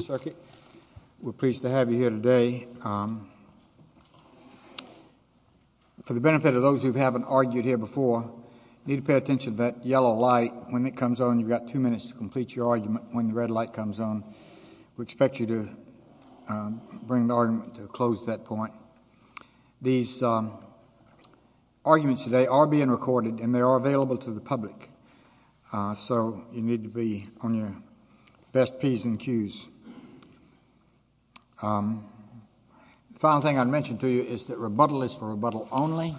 Circuit, we're pleased to have you here today. For the benefit of those who haven't argued here before, you need to pay attention to that yellow light. When it comes on, you've got 2 minutes to complete your argument when the red light comes on. We expect you to bring the argument to a close at that point. and they are available to the public. So, you need to be on your best Ps and Qs. The final thing I'd mention to you is that rebuttal is for rebuttal only,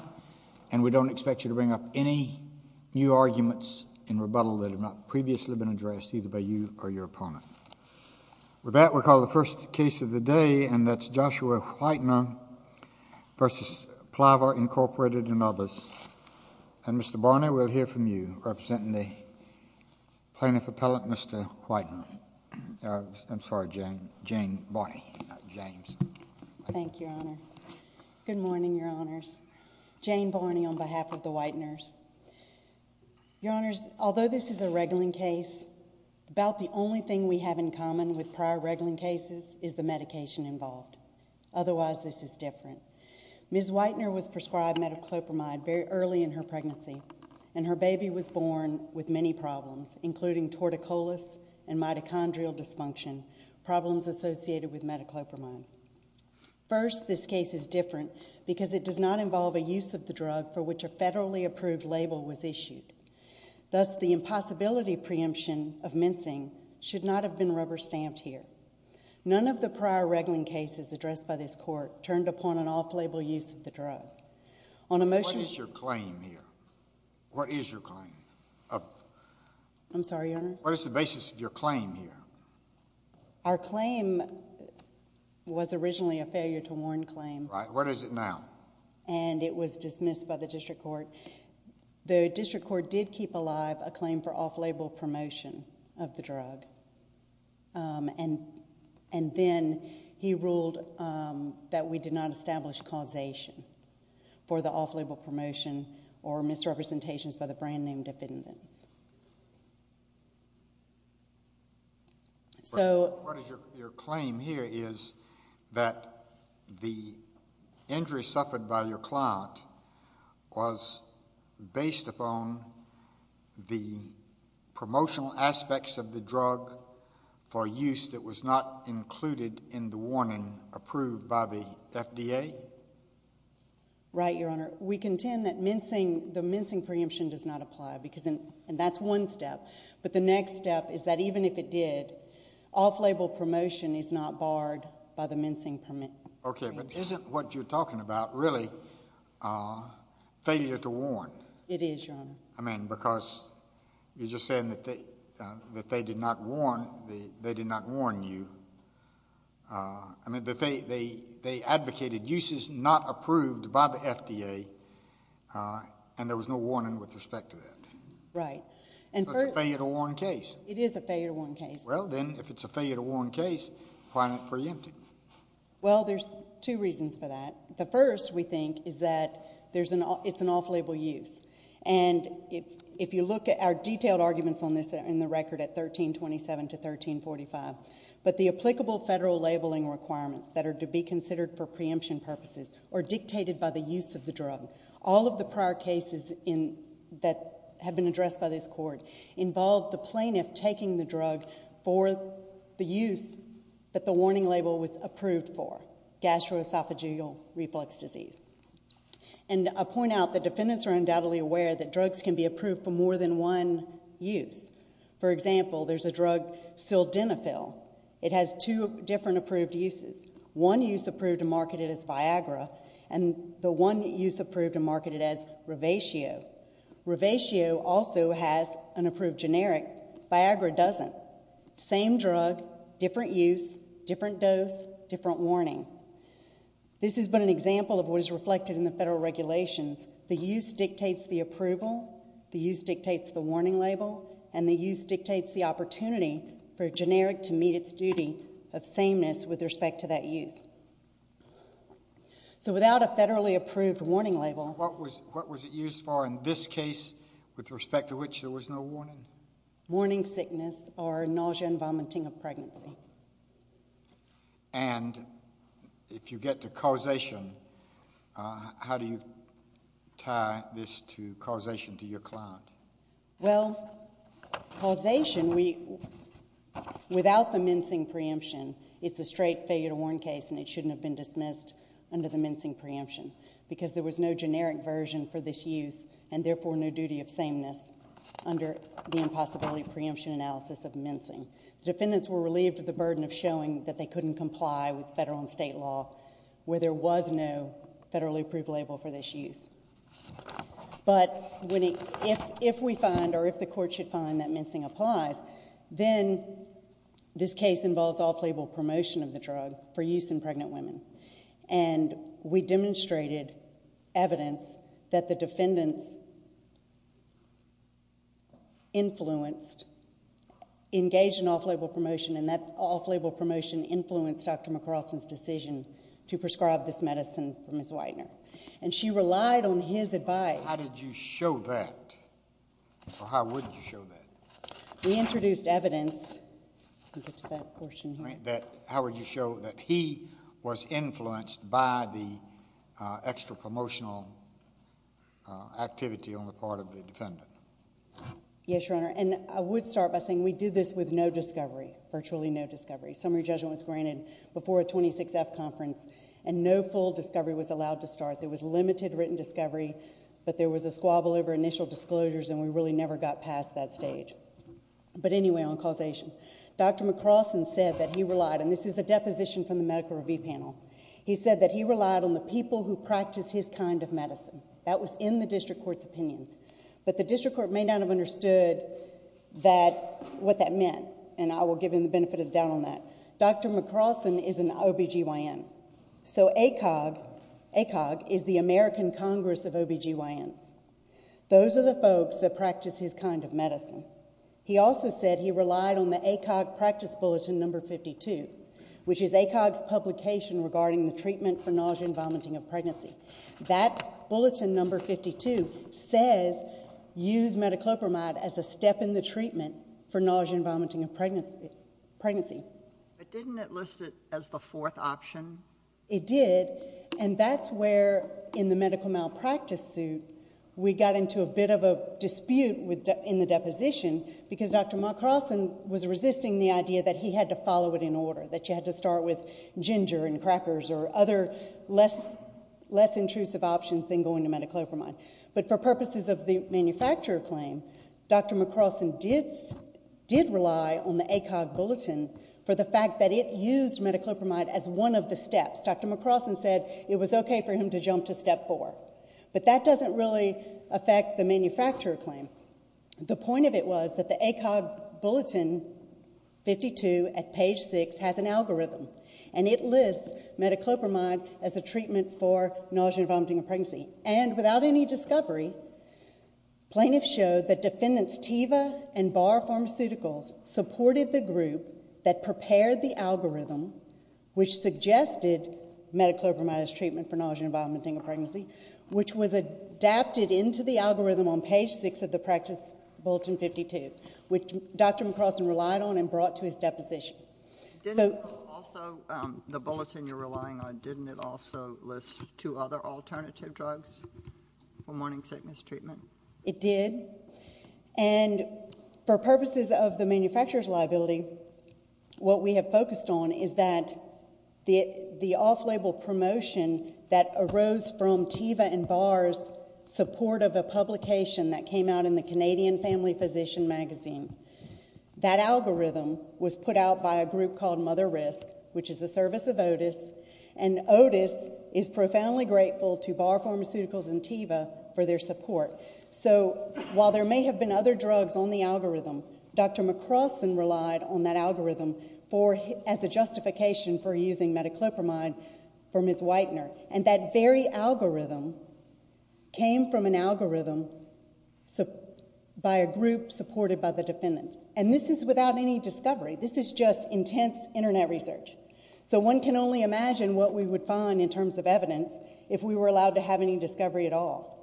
and we don't expect you to bring up any new arguments in rebuttal that have not previously been addressed, either by you or your opponent. With that, we'll call the first case of the day, and that's Joshua Whitener v. Pliva, Incorporated and others. And Mr. Barney, we'll hear from you, representing the plaintiff appellant, Mr. Whitener. I'm sorry, Jane Barney, not James. Thank you, Your Honor. Good morning, Your Honors. Jane Barney on behalf of the Whiteners. Your Honors, although this is a reguling case, about the only thing we have in common with prior reguling cases is the medication involved. Otherwise, this is different. Ms. Whitener was prescribed metoclopramide very early in her pregnancy, and her baby was born with many problems, including torticollis and mitochondrial dysfunction, problems associated with metoclopramide. First, this case is different because it does not involve a use of the drug for which a federally approved label was issued. Thus, the impossibility preemption of mincing should not have been rubber-stamped here. None of the prior reguling cases addressed by this court turned upon an off-label use of the drug. What is your claim here? What is your claim? I'm sorry, Your Honor? What is the basis of your claim here? Our claim was originally a failure-to-warn claim. Right. What is it now? And it was dismissed by the district court. The district court did keep alive a claim for off-label promotion of the drug. And then he ruled that we did not establish causation for the off-label promotion or misrepresentations by the brand-name defendants. So... What is your claim here is that the injury suffered by your client was based upon the promotional aspects of the drug for use that was not included in the warning approved by the FDA? Right, Your Honor. We contend that the mincing preemption does not apply, and that's one step. But the next step is that even if it did, off-label promotion is not barred by the mincing preemption. Okay, but isn't what you're talking about really failure-to-warn? It is, Your Honor. I mean, because you're just saying that they did not warn you. I mean, they advocated uses not approved by the FDA, and there was no warning with respect to that. Right. So it's a failure-to-warn case. It is a failure-to-warn case. Well, then, if it's a failure-to-warn case, why isn't it preempted? Well, there's two reasons for that. The first, we think, is that it's an off-label use. And if you look at our detailed arguments on this in the record at 1327 to 1345, but the applicable federal labeling requirements that are to be considered for preemption purposes are dictated by the use of the drug. All of the prior cases that have been addressed by this court involve the plaintiff taking the drug for the use that the warning label was approved for, gastroesophageal reflux disease. And I'll point out that defendants are undoubtedly aware that drugs can be approved for more than one use. For example, there's a drug sildenafil. It has two different approved uses, one use approved and marketed as Viagra and the one use approved and marketed as Revatio. Revatio also has an approved generic. Viagra doesn't. Same drug, different use, different dose, different warning. This has been an example of what is reflected in the federal regulations. The use dictates the approval, the use dictates the warning label, and the use dictates the opportunity for a generic to meet its duty of sameness with respect to that use. So without a federally approved warning label... What was it used for in this case with respect to which there was no warning? Warning sickness or nausea and vomiting of pregnancy. And if you get to causation, how do you tie this causation to your client? Well, causation, without the mincing preemption, it's a straight failure to warn case and it shouldn't have been dismissed under the mincing preemption because there was no generic version for this use and therefore no duty of sameness under the impossibility preemption analysis of mincing. The defendants were relieved of the burden of showing that they couldn't comply with federal and state law where there was no federally approved label for this use. But if we find, or if the court should find, that mincing applies, then this case involves off-label promotion of the drug for use in pregnant women. And we demonstrated evidence that the defendants influenced... engaged in off-label promotion and that off-label promotion influenced Dr. McCarlson's decision to prescribe this medicine for Ms. Widener. And she relied on his advice... How did you show that? Or how would you show that? We introduced evidence... Let me get to that portion here. How would you show that he was influenced by the extra-promotional activity on the part of the defendant? Yes, Your Honor, and I would start by saying we did this with no discovery, virtually no discovery. Summary judgment was granted before a 26-F conference and no full discovery was allowed to start. There was limited written discovery, but there was a squabble over initial disclosures and we really never got past that stage. But anyway, on causation. Dr. McCarlson said that he relied... This is a deposition from the medical review panel. He said that he relied on the people who practice his kind of medicine. That was in the district court's opinion. But the district court may not have understood that... what that meant, and I will give him the benefit of the doubt on that. Dr. McCarlson is an OB-GYN, so ACOG... ACOG is the American Congress of OB-GYNs. Those are the folks that practice his kind of medicine. He also said he relied on the ACOG practice bulletin number 52, which is ACOG's publication regarding the treatment for nausea and vomiting of pregnancy. That bulletin number 52 says, use metoclopramide as a step in the treatment for nausea and vomiting of pregnancy. But didn't it list it as the fourth option? It did, and that's where, in the medical malpractice suit, we got into a bit of a dispute in the deposition because Dr. McCarlson was resisting the idea that he had to follow it in order, that you had to start with ginger and crackers or other less intrusive options than going to metoclopramide. But for purposes of the manufacturer claim, Dr. McCarlson did rely on the ACOG bulletin for the fact that it used metoclopramide as one of the steps. Dr. McCarlson said it was okay for him to jump to step 4. But that doesn't really affect the manufacturer claim. The point of it was that the ACOG bulletin 52 at page 6 has an algorithm, and it lists metoclopramide as a treatment for nausea and vomiting of pregnancy. And without any discovery, plaintiffs showed that defendants Teva and Barr Pharmaceuticals supported the group that prepared the algorithm which suggested metoclopramide as treatment for nausea and vomiting of pregnancy, which was adapted into the algorithm on page 6 of the practice bulletin 52, which Dr. McCarlson relied on and brought to his deposition. Didn't it also, the bulletin you're relying on, didn't it also list two other alternative drugs for morning sickness treatment? It did. And for purposes of the manufacturer's liability, what we have focused on is that the off-label promotion that arose from Teva and Barr's support of a publication that came out in the Canadian Family Physician magazine. That algorithm was put out by a group called Mother Risk, which is the service of Otis, and Otis is profoundly grateful to Barr Pharmaceuticals and Teva for their support. So while there may have been other drugs on the algorithm, Dr. McCarlson relied on that algorithm as a justification for using metoclopramide from his Whitener, and that very algorithm came from an algorithm by a group supported by the defendants. And this is without any discovery. This is just intense Internet research. So one can only imagine what we would find in terms of evidence if we were allowed to have any discovery at all.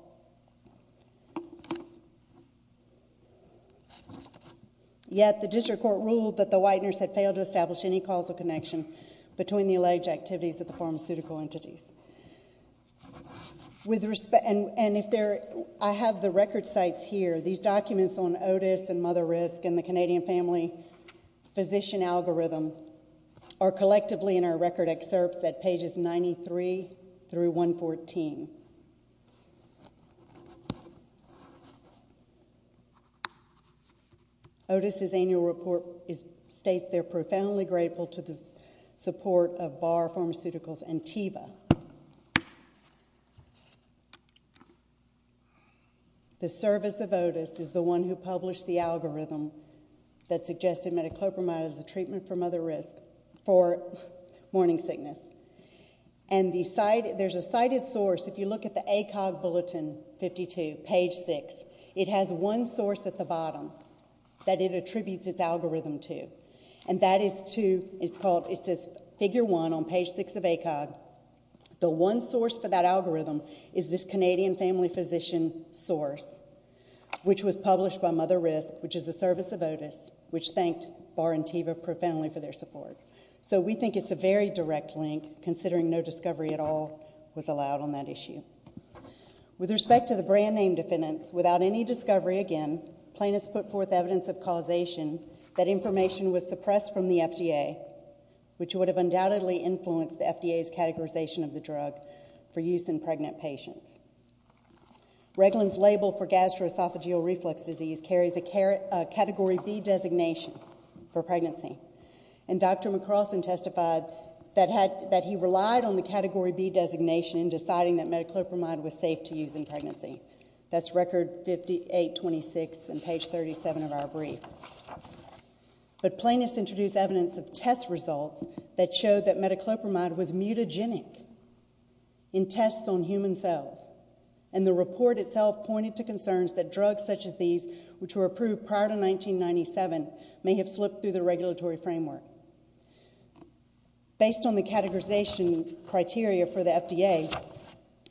Yet the district court ruled that the Whiteners had failed to establish any causal connection between the alleged activities of the pharmaceutical entities. And if there... I have the record sites here. These documents on Otis and Mother Risk and the Canadian Family Physician algorithm are collectively in our record excerpts at pages 93 through 114. Otis's annual report states they're profoundly grateful to the support of Barr Pharmaceuticals and Teva. The service of Otis is the one who published the algorithm that suggested metoclopramide as a treatment for mother risk, for morning sickness. And there's a cited source. If you look at the ACOG Bulletin 52, page 6, it has one source at the bottom that it attributes its algorithm to, and that is to... it's called... It says, figure 1 on page 6 of ACOG. The one source for that algorithm is this Canadian Family Physician source, which was published by Mother Risk, which is a service of Otis, which thanked Barr and Teva profoundly for their support. So we think it's a very direct link, considering no discovery at all was allowed on that issue. With respect to the brand-name defendants, without any discovery, again, plaintiffs put forth evidence of causation that information was suppressed from the FDA, which would have undoubtedly influenced the FDA's categorization of the drug for use in pregnant patients. Reglan's label for gastroesophageal reflux disease carries a category B designation for pregnancy. And Dr. McCrossin testified that he relied on the category B designation in deciding that metoclopramide was safe to use in pregnancy. That's record 5826 on page 37 of our brief. But plaintiffs introduced evidence of test results that showed that metoclopramide was mutagenic in tests on human cells. And the report itself pointed to concerns that drugs such as these, which were approved prior to 1997, may have slipped through the regulatory framework. Based on the categorization criteria for the FDA,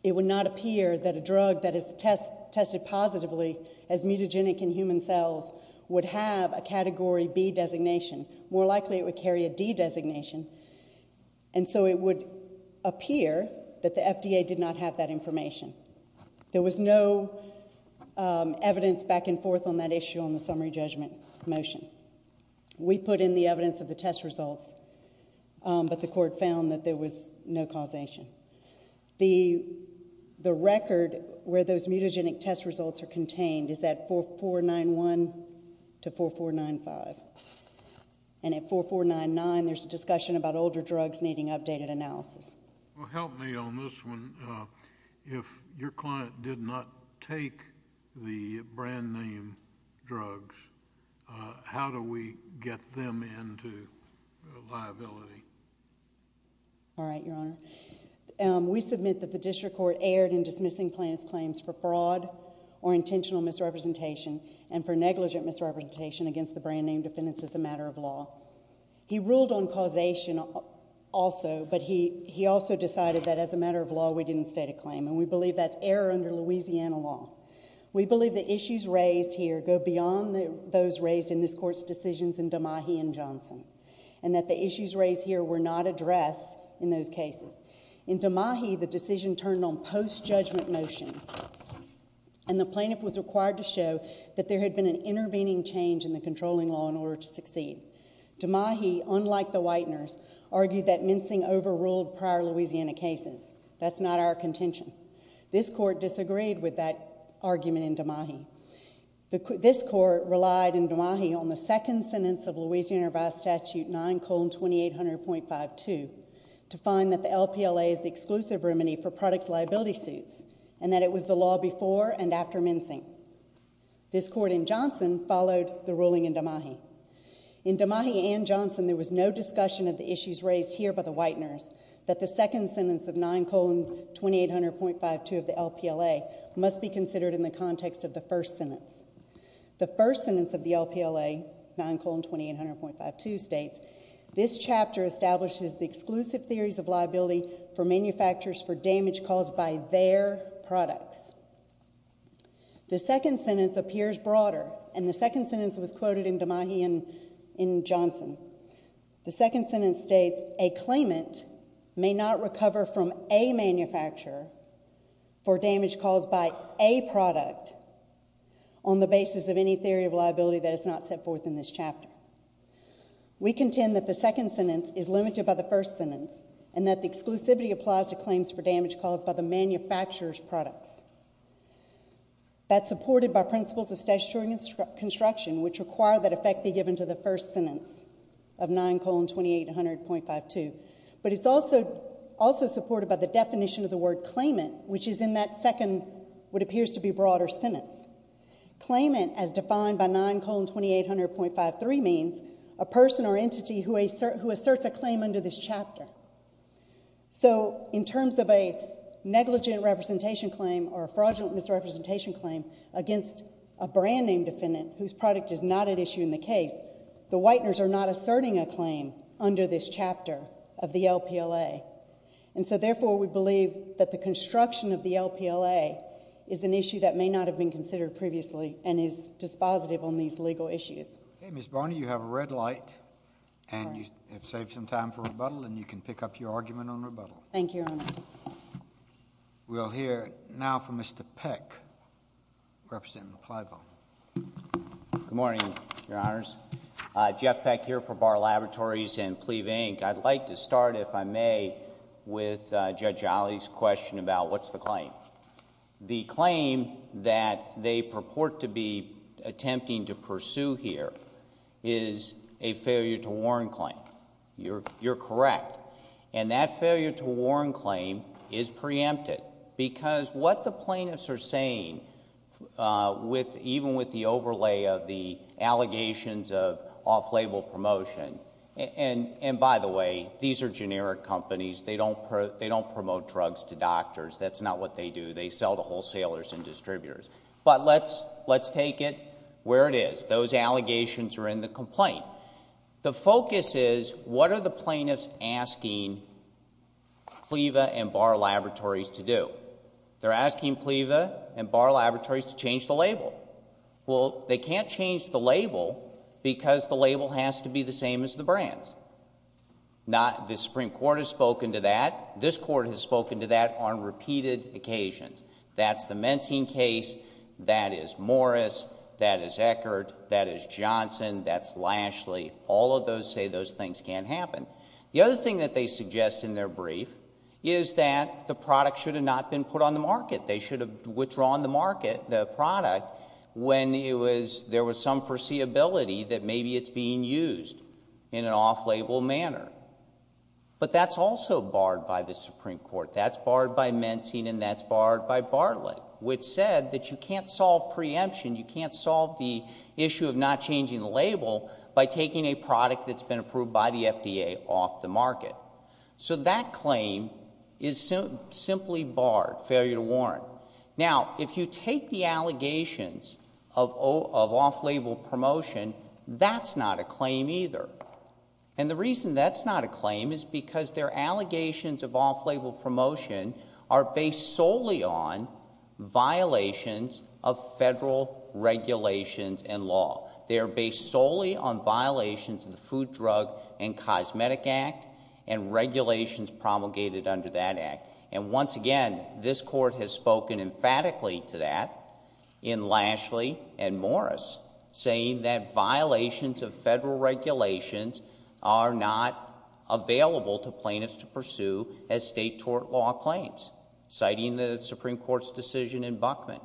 it would not appear that a drug that is tested positively as mutagenic in human cells would have a category B designation. More likely, it would carry a D designation. And so it would appear that the FDA did not have that information. There was no evidence back and forth on that issue on the summary judgment motion. We put in the evidence of the test results, but the court found that there was no causation. The record where those mutagenic test results are contained is at 4491 to 4495. And at 4499, there's a discussion about older drugs needing updated analysis. Well, help me on this one. If your client did not take the brand-name drugs, how do we get them into liability? All right, Your Honor. We submit that the district court erred in dismissing plaintiff's claims for fraud or intentional misrepresentation and for negligent misrepresentation against the brand-name defendants as a matter of law. He ruled on causation also, but he also decided that as a matter of law, we didn't state a claim, and we believe that's error under Louisiana law. We believe the issues raised here go beyond those raised in this court's decisions in Damahi and Johnson and that the issues raised here were not addressed in those cases. In Damahi, the decision turned on post-judgment motions, and the plaintiff was required to show that there had been an intervening change in the controlling law in order to succeed. Damahi, unlike the Whiteners, argued that mincing overruled prior Louisiana cases. That's not our contention. This court disagreed with that argument in Damahi. This court relied in Damahi on the second sentence of Louisiana Revised Statute 9,2800.52 to find that the LPLA is the exclusive remedy for products liability suits and that it was the law before and after mincing. This court in Johnson followed the ruling in Damahi. In Damahi and Johnson, there was no discussion of the issues raised here by the Whiteners that the second sentence of 9,2800.52 of the LPLA must be considered in the context of the first sentence. The first sentence of the LPLA, 9,2800.52, states, This chapter establishes the exclusive theories of liability for manufacturers for damage caused by their products. The second sentence appears broader, and the second sentence was quoted in Damahi and in Johnson. The second sentence states, A claimant may not recover from a manufacturer for damage caused by a product on the basis of any theory of liability that is not set forth in this chapter. We contend that the second sentence is limited by the first sentence and that the exclusivity applies to claims for damage caused by the manufacturer's products. That's supported by principles of statutory construction which require that effect be given to the first sentence of 9,2800.52, but it's also supported by the definition of the word claimant, which is in that second what appears to be broader sentence. Claimant, as defined by 9,2800.53, means a person or entity who asserts a claim under this chapter. So in terms of a negligent representation claim or a fraudulent misrepresentation claim against a brand-name defendant whose product is not at issue in the case, the Whiteners are not asserting a claim under this chapter of the LPLA. And so, therefore, we believe that the construction of the LPLA is an issue that may not have been considered previously and is dispositive on these legal issues. Okay, Ms. Barney, you have a red light, and you have saved some time for rebuttal, and you can pick up your argument on rebuttal. Thank you, Your Honor. We'll hear now from Mr. Peck, representing the Plabo. Good morning, Your Honors. Jeff Peck here for Barr Laboratories and Pleve, Inc. I'd like to start, if I may, with Judge Ali's question about what's the claim. The claim that they purport to be attempting to pursue here is a failure-to-warrant claim. You're correct. And that failure-to-warrant claim is preempted because what the plaintiffs are saying, even with the overlay of the allegations of off-label promotion... And by the way, these are generic companies. They don't promote drugs to doctors. That's not what they do. They sell to wholesalers and distributors. But let's take it where it is. Those allegations are in the complaint. The focus is, what are the plaintiffs asking Pleve and Barr Laboratories to do? They're asking Pleve and Barr Laboratories to change the label. Well, they can't change the label because the label has to be the same as the brands. The Supreme Court has spoken to that. This Court has spoken to that on repeated occasions. That's the Mentine case. That is Morris. That is Eckert. That is Johnson. That's Lashley. All of those say those things can't happen. The other thing that they suggest in their brief is that the product should have not been put on the market. They should have withdrawn the product when there was some foreseeability that maybe it's being used in an off-label manner. But that's also barred by the Supreme Court. That's barred by Mentine, and that's barred by Bartlett, which said that you can't solve preemption, you can't solve the issue of not changing the label by taking a product that's been approved by the FDA off the market. So that claim is simply barred, failure to warrant. Now, if you take the allegations of off-label promotion, that's not a claim either. And the reason that's not a claim is because their allegations of off-label promotion are based solely on violations of federal regulations and law. They are based solely on violations of the Food, Drug, and Cosmetic Act and regulations promulgated under that act. And once again, this court has spoken emphatically to that in Lashley and Morris, saying that violations of federal regulations are not available to plaintiffs to pursue as state tort law claims, citing the Supreme Court's decision in Buckman.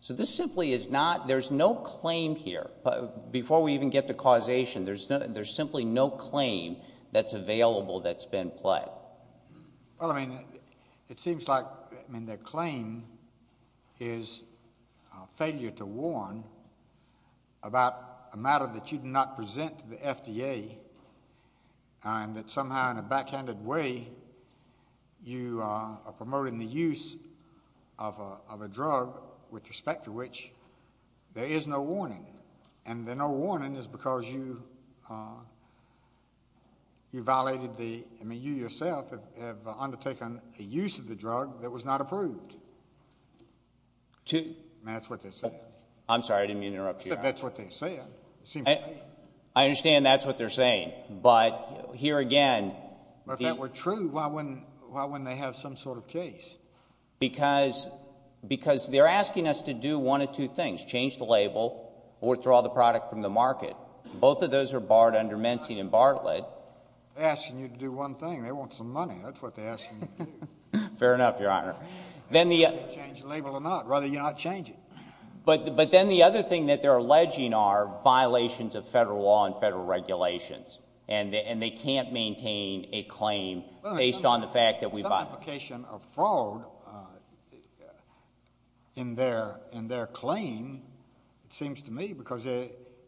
So this simply is not... there's no claim here. Before we even get to causation, there's simply no claim that's available that's been pled. Well, I mean, it seems like... I mean, their claim is failure to warn about a matter that you did not present to the FDA and that somehow in a backhanded way you are promoting the use of a drug with respect to which there is no warning. And the no warning is because you violated the... I mean, you yourself have undertaken a use of the drug that was not approved. That's what they said. I'm sorry, I didn't mean to interrupt you. That's what they said. I understand that's what they're saying, but here again... If that were true, why wouldn't they have some sort of case? Because they're asking us to do one of two things, change the label or withdraw the product from the market. Both of those are barred under Mensing and Bartlett. They're asking you to do one thing. They want some money. That's what they're asking you to do. Fair enough, Your Honor. Change the label or not. Rather you not change it. But then the other thing that they're alleging are violations of federal law and federal regulations, and they can't maintain a claim based on the fact that we violated it. Some implication of fraud in their claim, it seems to me, because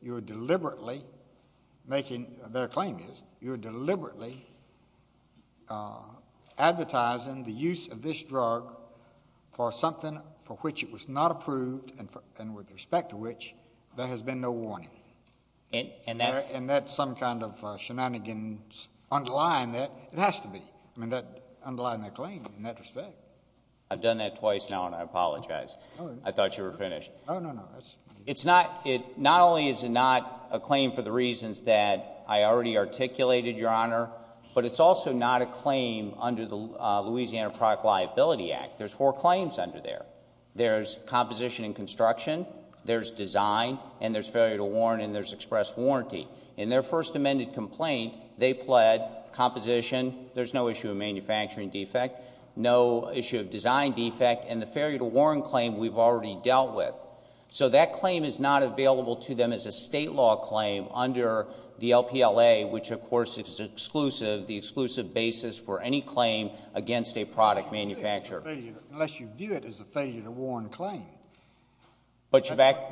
you're deliberately making... Their claim is you're deliberately advertising the use of this drug for something for which it was not approved and with respect to which there has been no warning. And that's some kind of shenanigans underlying that. It has to be underlying their claim in that respect. I've done that twice now, and I apologize. I thought you were finished. Not only is it not a claim for the reasons that I already articulated, Your Honor, but it's also not a claim under the Louisiana Product Liability Act. There's four claims under there. There's composition and construction. There's design, and there's failure to warn, and there's express warranty. In their first amended complaint, they pled composition. There's no issue of manufacturing defect, no issue of design defect, and the failure to warn claim we've already dealt with. So that claim is not available to them as a state law claim under the LPLA, which, of course, is exclusive, the exclusive basis for any claim against a product manufacturer. Unless you view it as a failure to warn claim. That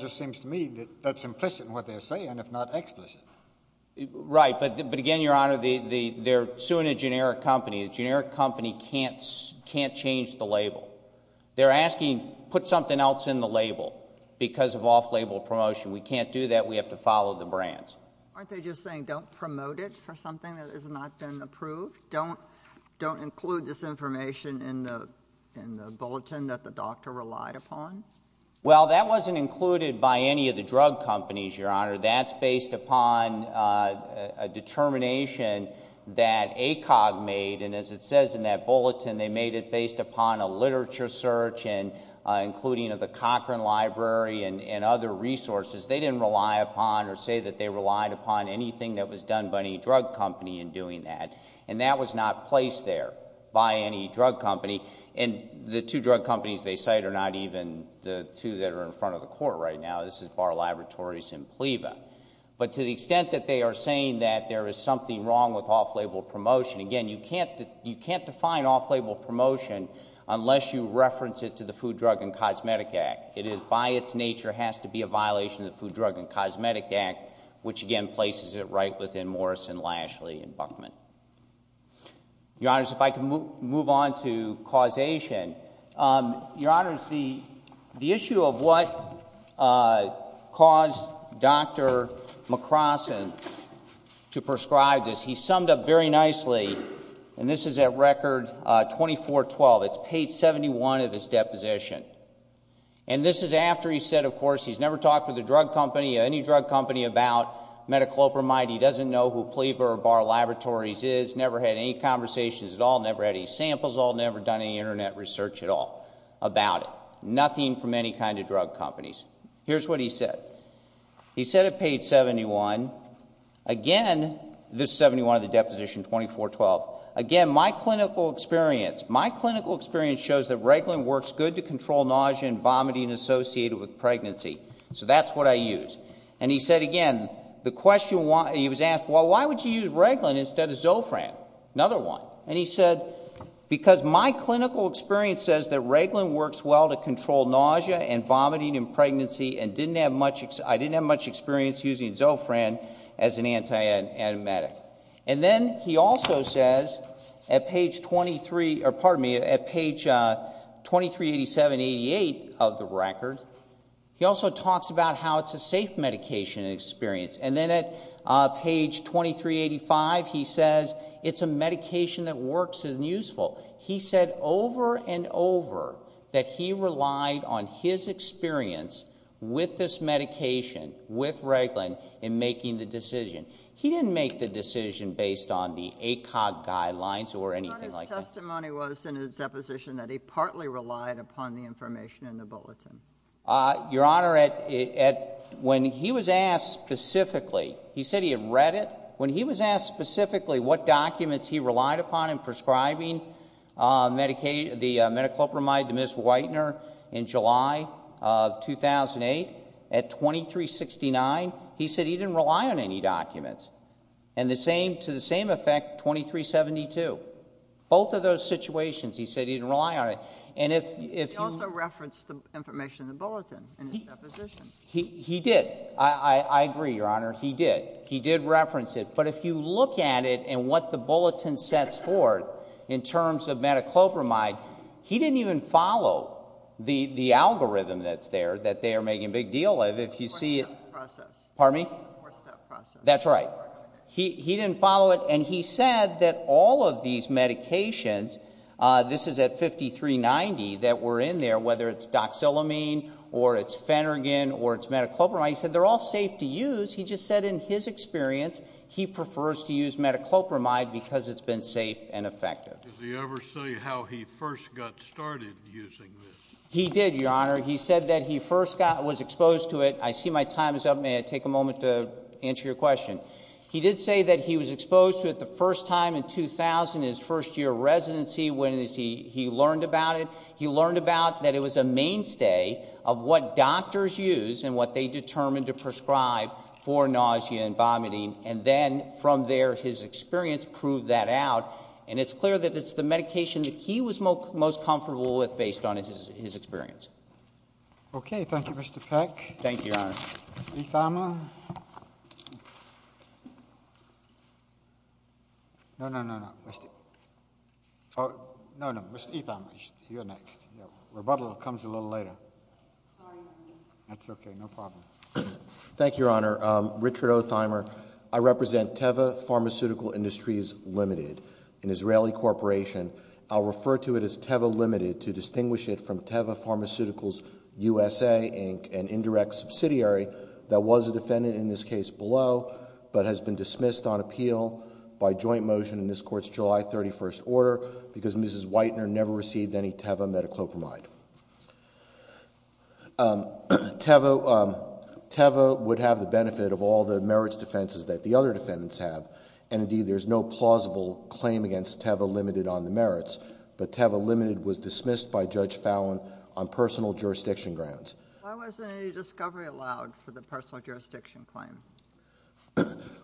just seems to me that that's implicit in what they're saying, if not explicit. Right, but again, Your Honor, they're suing a generic company. A generic company can't change the label. They're asking put something else in the label because of off-label promotion. We can't do that. We have to follow the brands. Aren't they just saying don't promote it for something that has not been approved? Don't include this information in the bulletin that the doctor relied upon? Well, that wasn't included by any of the drug companies, Your Honor. That's based upon a determination that ACOG made, and as it says in that bulletin, they made it based upon a literature search, including of the Cochran Library and other resources. They didn't rely upon or say that they relied upon anything that was done by any drug company in doing that. And that was not placed there by any drug company. And the two drug companies they cite are not even the two that are in front of the court right now. This is Bar Laboratories and Pleva. But to the extent that they are saying that there is something wrong with off-label promotion, again, you can't define off-label promotion unless you reference it to the Food, Drug, and Cosmetic Act. It is by its nature has to be a violation of the Food, Drug, and Cosmetic Act, which again places it right within Morrison, Lashley, and Buckman. Your Honors, if I can move on to causation. Your Honors, the issue of what caused Dr. McCrossin to prescribe this, he summed up very nicely, and this is at Record 2412. It's page 71 of his deposition. And this is after he said, of course, he's never talked with a drug company, any drug company about metoclopramide, he doesn't know who Pleva or Bar Laboratories is, never had any conversations at all, never had any samples at all, never done any Internet research at all about it. Nothing from any kind of drug companies. Here's what he said. He said at page 71. Again, this is 71 of the deposition 2412. Again, my clinical experience. My clinical experience shows that Reglan works good to control nausea and vomiting associated with pregnancy. So that's what I use. And he said again, the question he was asked, well, why would you use Reglan instead of Zofran? Another one. And he said, because my clinical experience says that Reglan works well to control nausea and vomiting in pregnancy and I didn't have much experience using Zofran as an anti-antibiotic. And then he also says at page 23, or pardon me, at page 238788 of the record, he also talks about how it's a safe medication experience. And then at page 2385 he says it's a medication that works and is useful. He said over and over that he relied on his experience with this medication, with Reglan, in making the decision. He didn't make the decision based on the ACOG guidelines or anything like that. His testimony was in his deposition that he partly relied upon the information in the bulletin. Your Honor, when he was asked specifically, he said he had read it. When he was asked specifically what documents he relied upon in prescribing the Mediclopramide to Ms. Whitener in July of 2008, at 2369, he said he didn't rely on any documents. And to the same effect, 2372. Both of those situations he said he didn't rely on it. He also referenced the information in the bulletin in his deposition. He did. I agree, Your Honor. He did. He did reference it. But if you look at it and what the bulletin sets forth in terms of Mediclopramide, he didn't even follow the algorithm that's there that they are making a big deal of. Pardon me? Four-step process. That's right. He didn't follow it. And he said that all of these medications, this is at 5390, that were in there, whether it's doxylamine or it's Phenergan or it's Mediclopramide, he said they're all safe to use. He just said in his experience he prefers to use Mediclopramide because it's been safe and effective. Did he ever say how he first got started using this? He did, Your Honor. He said that he first was exposed to it. I see my time is up. May I take a moment to answer your question? He did say that he was exposed to it the first time in 2000 in his first year of residency when he learned about it. He learned about that it was a mainstay of what doctors use and what they determine to prescribe for nausea and vomiting, and then from there his experience proved that out. And it's clear that it's the medication that he was most comfortable with based on his experience. Okay. Thank you, Mr. Peck. Thank you, Your Honor. Mr. Ethimer? No, no, no, no. No, no, Mr. Ethimer, you're next. Rebuttal comes a little later. Sorry. That's okay. No problem. Thank you, Your Honor. Richard O. Ethimer. I represent Teva Pharmaceutical Industries Limited, an Israeli corporation. I'll refer to it as Teva Limited to distinguish it from Teva Pharmaceuticals USA, Inc., an indirect subsidiary that was a defendant in this case below, but has been dismissed on appeal by joint motion in this Court's July 31st order because Mrs. Whitener never received any Teva metoclopramide. Teva would have the benefit of all the merits defenses that the other defendants have, and indeed there's no plausible claim against Teva Limited on the merits, but Teva Limited was dismissed by Judge Fallon on personal jurisdiction grounds. Why wasn't any discovery allowed for the personal jurisdiction claim?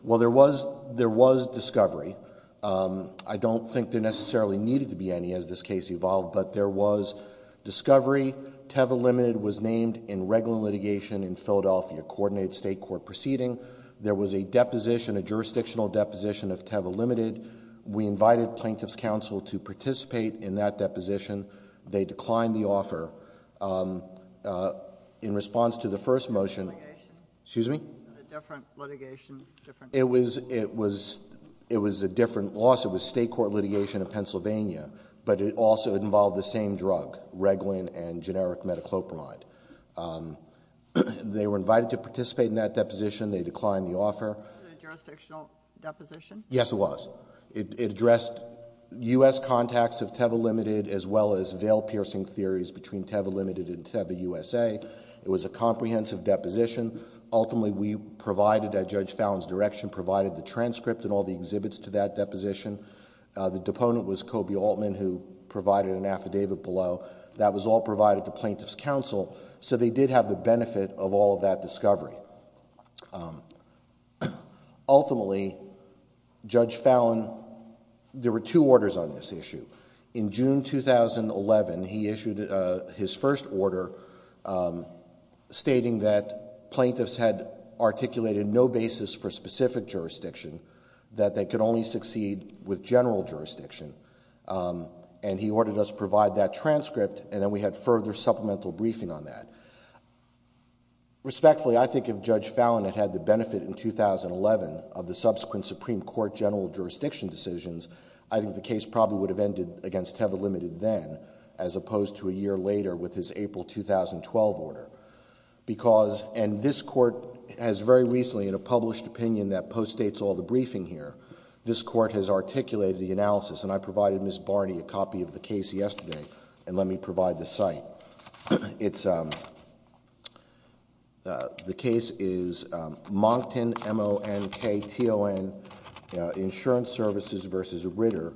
Well, there was discovery. I don't think there necessarily needed to be any as this case evolved, but there was discovery. Teva Limited was named in regular litigation in Philadelphia, a coordinated state court proceeding. There was a deposition, a jurisdictional deposition of Teva Limited. We invited Plaintiff's Counsel to participate in that deposition. They declined the offer. In response to the first motion, it was a different loss. It was state court litigation in Pennsylvania, but it also involved the same drug, Reglan and generic metoclopramide. They were invited to participate in that deposition. They declined the offer. Was it a jurisdictional deposition? Yes, it was. It addressed U.S. contacts of Teva Limited as well as veil-piercing theories between Teva Limited and Teva USA. It was a comprehensive deposition. Ultimately, we provided at Judge Fallon's direction, provided the transcript and all the exhibits to that deposition. The deponent was Kobe Altman, who provided an affidavit below. That was all provided to Plaintiff's Counsel, so they did have the benefit of all of that discovery. Ultimately, Judge Fallon, there were two orders on this issue. In June 2011, he issued his first order stating that plaintiffs had articulated no basis for specific jurisdiction, that they could only succeed with general jurisdiction. He ordered us to provide that transcript, and then we had further supplemental briefing on that. Respectfully, I think if Judge Fallon had had the benefit in 2011 of the subsequent Supreme Court general jurisdiction decisions, I think the case probably would have ended against Teva Limited then, as opposed to a year later with his April 2012 order. This Court has very recently, in a published opinion that postdates all the briefing here, this Court has articulated the analysis, and I provided Ms. Barney a copy of the case yesterday, and let me provide the site. The case is Moncton, M-O-N-K-T-O-N, Insurance Services v. Ritter,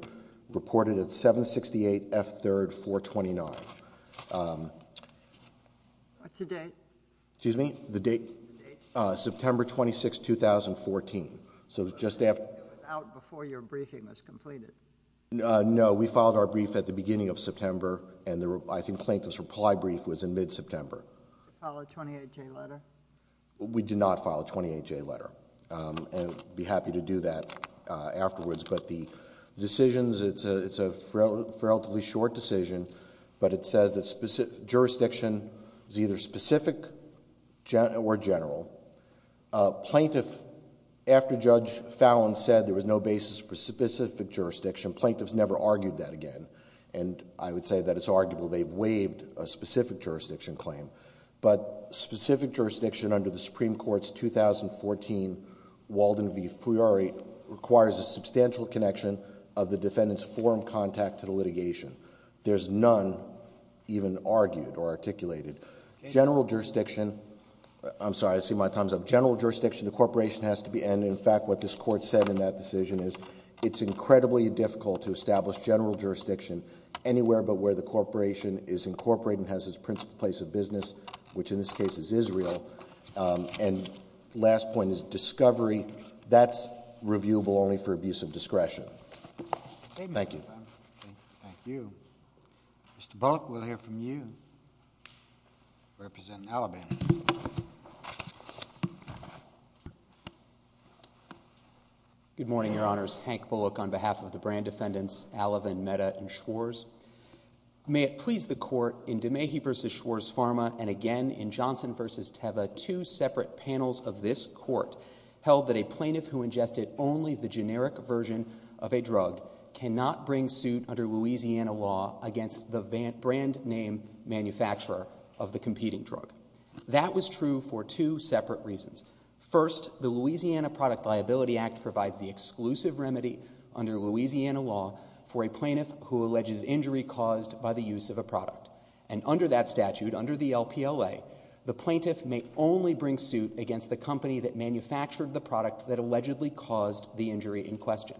reported at 768 F. 3rd, 429. What's the date? Excuse me? The date? The date? September 26, 2014. So just after... It was out before your briefing was completed. No, we filed our brief at the beginning of September, and I think the plaintiff's reply brief was in mid-September. Did you file a 28-J letter? We did not file a 28-J letter, and I'd be happy to do that afterwards, but the decisions, it's a relatively short decision, but it says that jurisdiction is either specific or general. Plaintiff, after Judge Fallon said there was no basis for specific jurisdiction, plaintiffs never argued that again, and I would say that it's arguable they've waived a specific jurisdiction claim, but specific jurisdiction under the Supreme Court's 2014 Walden v. Fiori requires a substantial connection of the defendant's informed contact to the litigation. There's none even argued or articulated. General jurisdiction... I'm sorry, I see my time's up. General jurisdiction, the corporation has to be, and in fact what this Court said in that decision is it's incredibly difficult to establish general jurisdiction anywhere but where the corporation is incorporated and has its principal place of business, which in this case is Israel. And last point is discovery. That's reviewable only for abuse of discretion. Thank you. Thank you. Mr. Bullock, we'll hear from you. Representative Allavan. Good morning, Your Honors. Hank Bullock on behalf of the Brand defendants, Allavan, Mehta, and Schwarz. May it please the Court, in DeMahie v. Schwarz-Farma and again in Johnson v. Teva, two separate panels of this Court held that a plaintiff who ingested only the generic version of a drug cannot bring suit under Louisiana law against the brand name manufacturer of the competing drug. That was true for two separate reasons. First, the Louisiana Product Liability Act provides the exclusive remedy under Louisiana law for a plaintiff who alleges injury caused by the use of a product. And under that statute, under the LPLA, the plaintiff may only bring suit against the company that manufactured the product that allegedly caused the injury in question.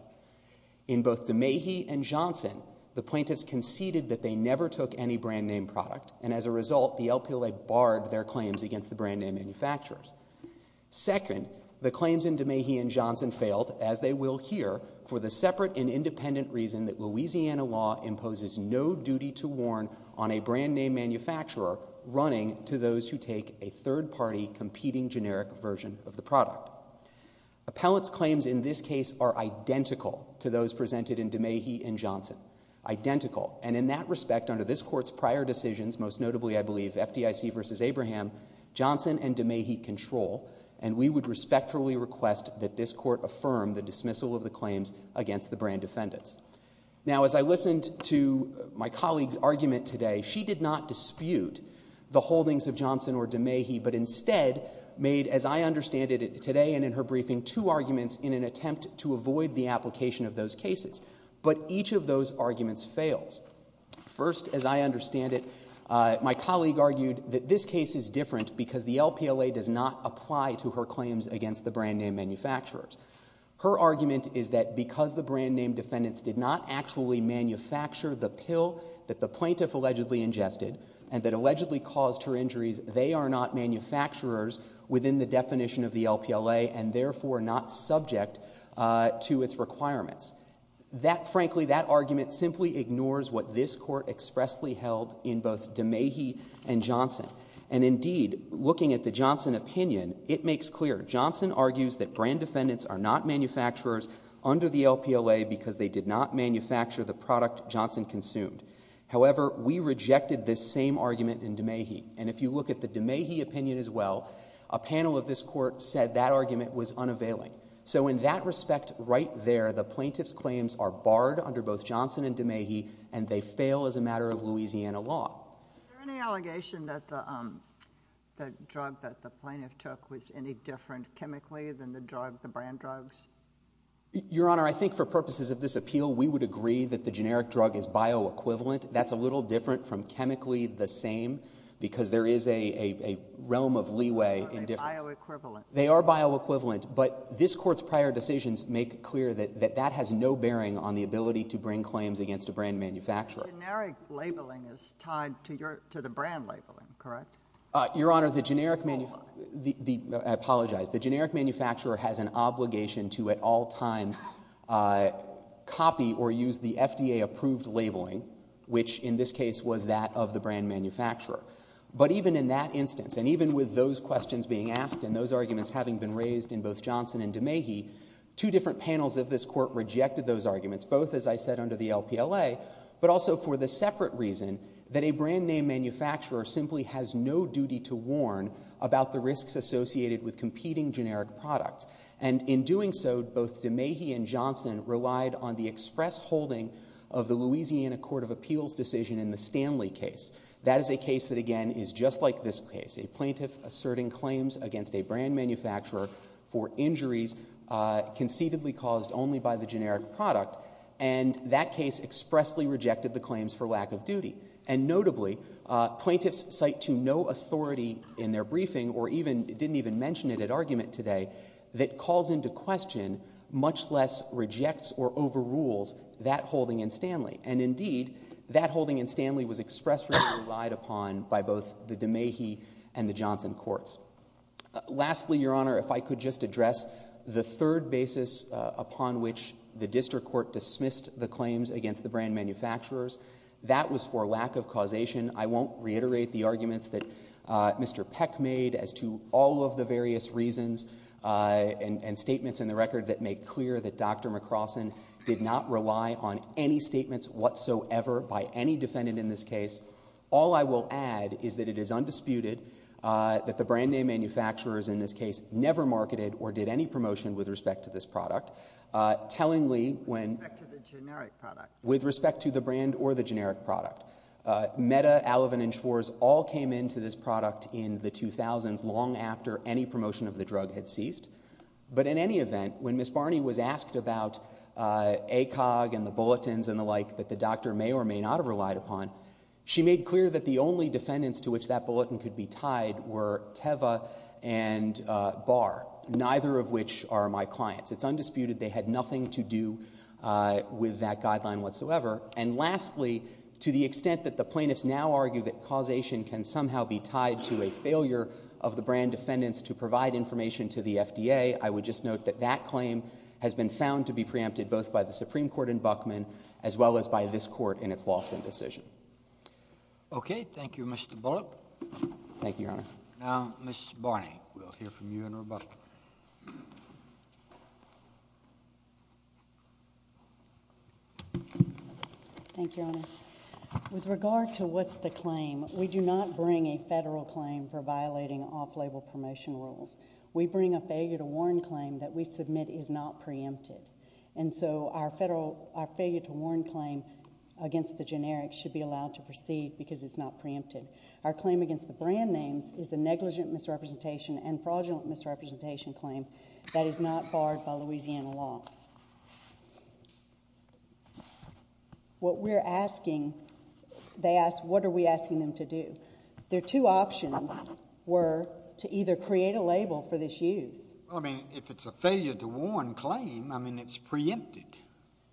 In both DeMahie and Johnson, the plaintiffs conceded that they never took any brand name product, and as a result, the LPLA barred their claims against the brand name manufacturers. Second, the claims in DeMahie and Johnson failed, as they will here, for the separate and independent reason that Louisiana law imposes no duty to warn on a brand name manufacturer running to those who take a third-party competing generic version of the product. Appellants' claims in this case are identical to those presented in DeMahie and Johnson. Identical. And in that respect, under this Court's prior decisions, most notably, I believe, FDIC v. Abraham, Johnson and DeMahie control, and we would respectfully request that this Court affirm the dismissal of the claims against the brand defendants. Now, as I listened to my colleague's argument today, she did not dispute the holdings of Johnson or DeMahie, but instead made, as I understand it today and in her briefing, two arguments in an attempt to avoid the application of those cases. But each of those arguments fails. First, as I understand it, my colleague argued that this case is different because the LPLA does not apply to her claims against the brand name manufacturers. Her argument is that because the brand name defendants did not actually manufacture the pill that the plaintiff allegedly ingested and that allegedly caused her injuries, they are not manufacturers within the definition of the LPLA and therefore not subject to its requirements. Frankly, that argument simply ignores what this Court expressly held in both DeMahie and Johnson. And indeed, looking at the Johnson opinion, it makes clear Johnson argues that brand defendants are not manufacturers under the LPLA because they did not manufacture the product Johnson consumed. However, we rejected this same argument in DeMahie. And if you look at the DeMahie opinion as well, a panel of this Court said that argument was unavailing. So in that respect right there, the plaintiff's claims are barred under both Johnson and DeMahie and they fail as a matter of Louisiana law. Is there any allegation that the drug that the plaintiff took was any different chemically than the drug, the brand drugs? Your Honour, I think for purposes of this appeal, we would agree that the generic drug is bioequivalent. That's a little different from chemically the same because there is a realm of leeway in difference. They are bioequivalent, but this Court's prior decisions make clear that that has no bearing on the ability to bring claims against a brand manufacturer. The generic labelling is tied to the brand labelling, correct? Your Honour, the generic... I apologise. The generic manufacturer has an obligation to at all times copy or use the FDA-approved labelling, which in this case was that of the brand manufacturer. But even in that instance, and even with those questions being asked and those arguments having been raised in both Johnson and DeMahie, two different panels of this Court rejected those arguments, both, as I said, under the LPLA, but also for the separate reason that a brand-name manufacturer simply has no duty to warn about the risks associated with competing generic products. And in doing so, both DeMahie and Johnson relied on the express holding of the Louisiana Court of Appeals decision in the Stanley case. That is a case that, again, is just like this case, a plaintiff asserting claims against a brand manufacturer for injuries conceivably caused only by the generic product, and that case expressly rejected the claims for lack of duty. And notably, plaintiffs cite to no authority in their briefing or didn't even mention it at argument today, that calls into question, much less rejects or overrules, that holding in Stanley. And indeed, that holding in Stanley was expressly relied upon by both the DeMahie and the Johnson courts. Lastly, Your Honour, if I could just address the third basis upon which the district court dismissed the claims against the brand manufacturers. That was for lack of causation. I won't reiterate the arguments that Mr. Peck made as to all of the various reasons and statements in the record that make clear that Dr. McCrossin did not rely on any statements whatsoever by any defendant in this case. All I will add is that it is undisputed that the brand-name manufacturers in this case never marketed or did any promotion with respect to this product. Tellingly, when... With respect to the generic product. With respect to the brand or the generic product. Metta, Allivan and Schwarz all came into this product in the 2000s, long after any promotion of the drug had ceased. But in any event, when Ms. Barney was asked about ACOG and the bulletins and the like that the doctor may or may not have relied upon, she made clear that the only defendants to which that bulletin could be tied were Teva and Barr, neither of which are my clients. It's undisputed they had nothing to do with that guideline whatsoever. And lastly, to the extent that the plaintiffs now argue that causation can somehow be tied to a failure of the brand defendants to provide information to the FDA, I would just note that that claim has been found to be preempted both by the Supreme Court in Buckman as well as by this Court in its Lofton decision. Okay. Thank you, Mr. Bullock. Thank you, Your Honor. Now, Ms. Barney, we'll hear from you in rebuttal. Thank you, Your Honor. With regard to what's the claim, we do not bring a federal claim for violating off-label promotion rules. We bring a failure-to-warn claim that we submit is not preempted. And so our failure-to-warn claim against the generic should be allowed to proceed because it's not preempted. Our claim against the brand names is a negligent misrepresentation and fraudulent misrepresentation claim that is not barred by Louisiana law. What we're asking, they ask, what are we asking them to do? Their two options were to either create a label for this use. Well, I mean, if it's a failure-to-warn claim, I mean, it's preempted.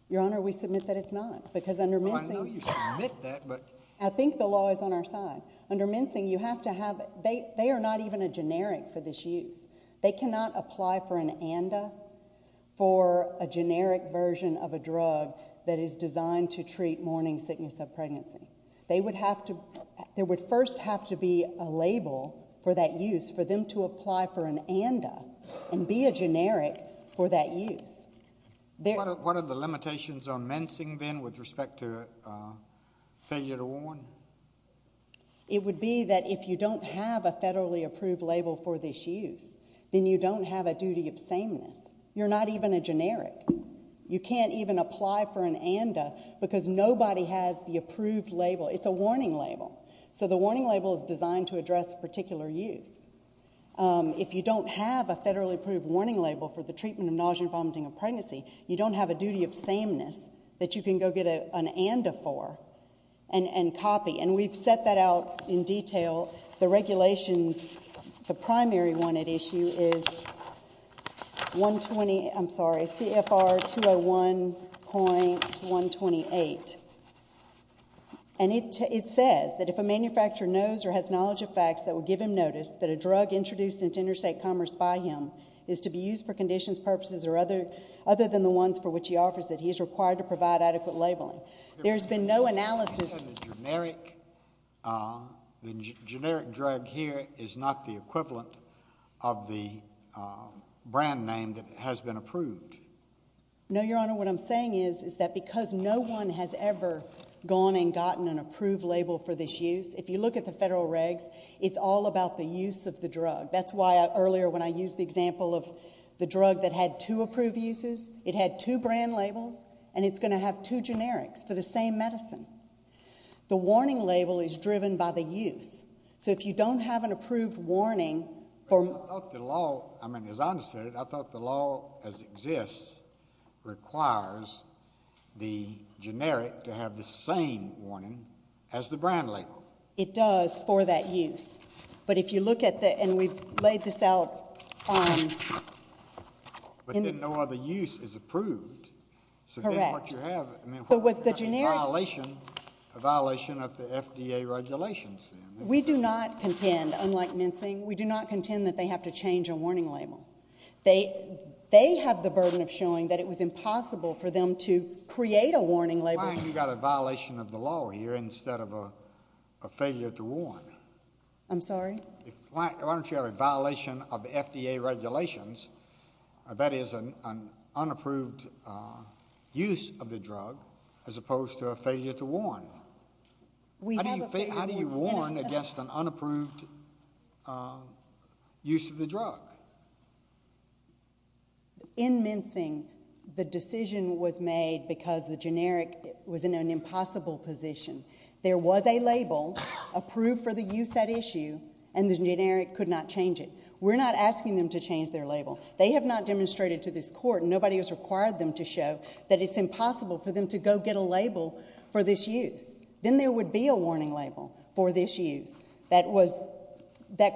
Your Honor, we submit that it's not because under mincing... Well, I know you submit that, but... I think the law is on our side. Under mincing, you have to have... They are not even a generic for this use. They cannot apply for an ANDA for a generic version of a drug that is designed to treat morning sickness of pregnancy. They would have to... There would first have to be a label for that use for them to apply for an ANDA and be a generic for that use. What are the limitations on mincing, then, with respect to failure-to-warn? It would be that if you don't have a federally approved label for this use, then you don't have a duty of sameness. You're not even a generic. You can't even apply for an ANDA because nobody has the approved label. It's a warning label. So the warning label is designed to address a particular use. If you don't have a federally approved warning label for the treatment of nausea and vomiting of pregnancy, you don't have a duty of sameness that you can go get an ANDA for and copy. And we've set that out in detail. The regulations, the primary one at issue is 120... I'm sorry, CFR 201.128. And it says that if a manufacturer knows or has knowledge of facts that would give him notice that a drug introduced into interstate commerce by him is to be used for conditions, purposes, or other than the ones for which he offers it, he is required to provide adequate labeling. There's been no analysis... You said the generic drug here is not the equivalent of the brand name that has been approved. No, Your Honor, what I'm saying is that because no one has ever gone and gotten an approved label for this use, if you look at the federal regs, it's all about the use of the drug. That's why earlier when I used the example of the drug that had two approved uses, it had two brand labels, and it's going to have two generics for the same medicine. The warning label is driven by the use. So if you don't have an approved warning... But I thought the law... I mean, as I understand it, I thought the law as it exists requires the generic to have the same warning as the brand label. It does for that use. But if you look at the... And we've laid this out on... But then no other use is approved. Correct. So then what you have... So with the generic... A violation of the FDA regulations, then. We do not contend, unlike mincing, we do not contend that they have to change a warning label. They have the burden of showing that it was impossible for them You've got a violation of the law here instead of a failure to warn. I'm sorry? Why don't you have a violation of the FDA regulations, that is, an unapproved use of the drug, as opposed to a failure to warn? How do you warn against an unapproved use of the drug? In mincing, the decision was made because the generic was in an impossible position. There was a label approved for the use at issue, and the generic could not change it. We're not asking them to change their label. They have not demonstrated to this court, and nobody has required them to show, that it's impossible for them to go get a label for this use. Then there would be a warning label for this use that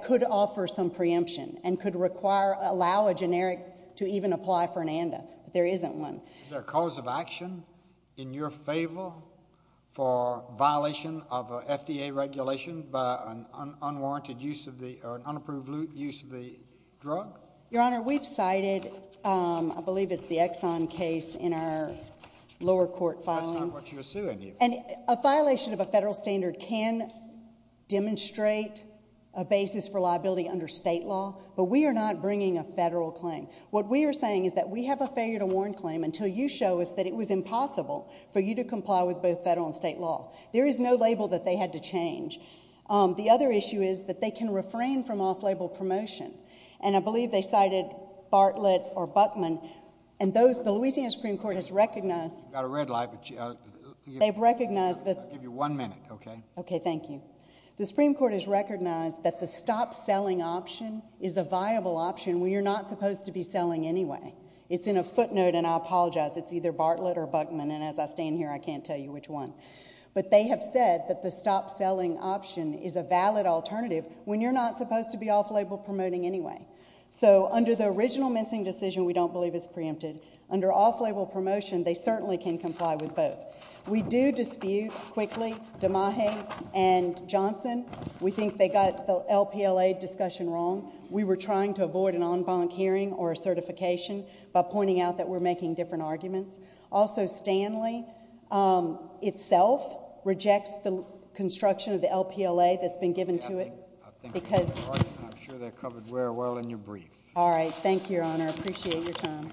could offer some preemption and could allow a generic to even apply for an ANDA. But there isn't one. Is there a cause of action in your favor for violation of FDA regulation by an unapproved use of the drug? Your Honor, we've cited, I believe it's the Exxon case, in our lower court filings. That's not what you're suing. A violation of a federal standard can demonstrate a basis for liability under state law, but we are not bringing a federal claim. What we are saying is that we have a failure to warn claim until you show us that it was impossible for you to comply with both federal and state law. There is no label that they had to change. The other issue is that they can refrain from off-label promotion, and I believe they cited Bartlett or Buckman, and the Louisiana Supreme Court has recognized... You've got a red light, but... I'll give you one minute, okay? Okay, thank you. The Supreme Court has recognized that the stop-selling option is a viable option when you're not supposed to be selling anyway. It's in a footnote, and I apologize. It's either Bartlett or Buckman, and as I stand here, I can't tell you which one. But they have said that the stop-selling option is a valid alternative when you're not supposed to be off-label promoting anyway. So under the original mincing decision, we don't believe it's preempted. Under off-label promotion, they certainly can comply with both. We do dispute, quickly, DeMahe and Johnson. We think they got the LPLA discussion wrong. We were trying to avoid an en banc hearing or a certification by pointing out that we're making different arguments. Also, Stanley itself rejects the construction of the LPLA that's been given to it because... I think you're correct, and I'm sure they're covered very well in your brief. All right, thank you, Your Honor. I appreciate your time.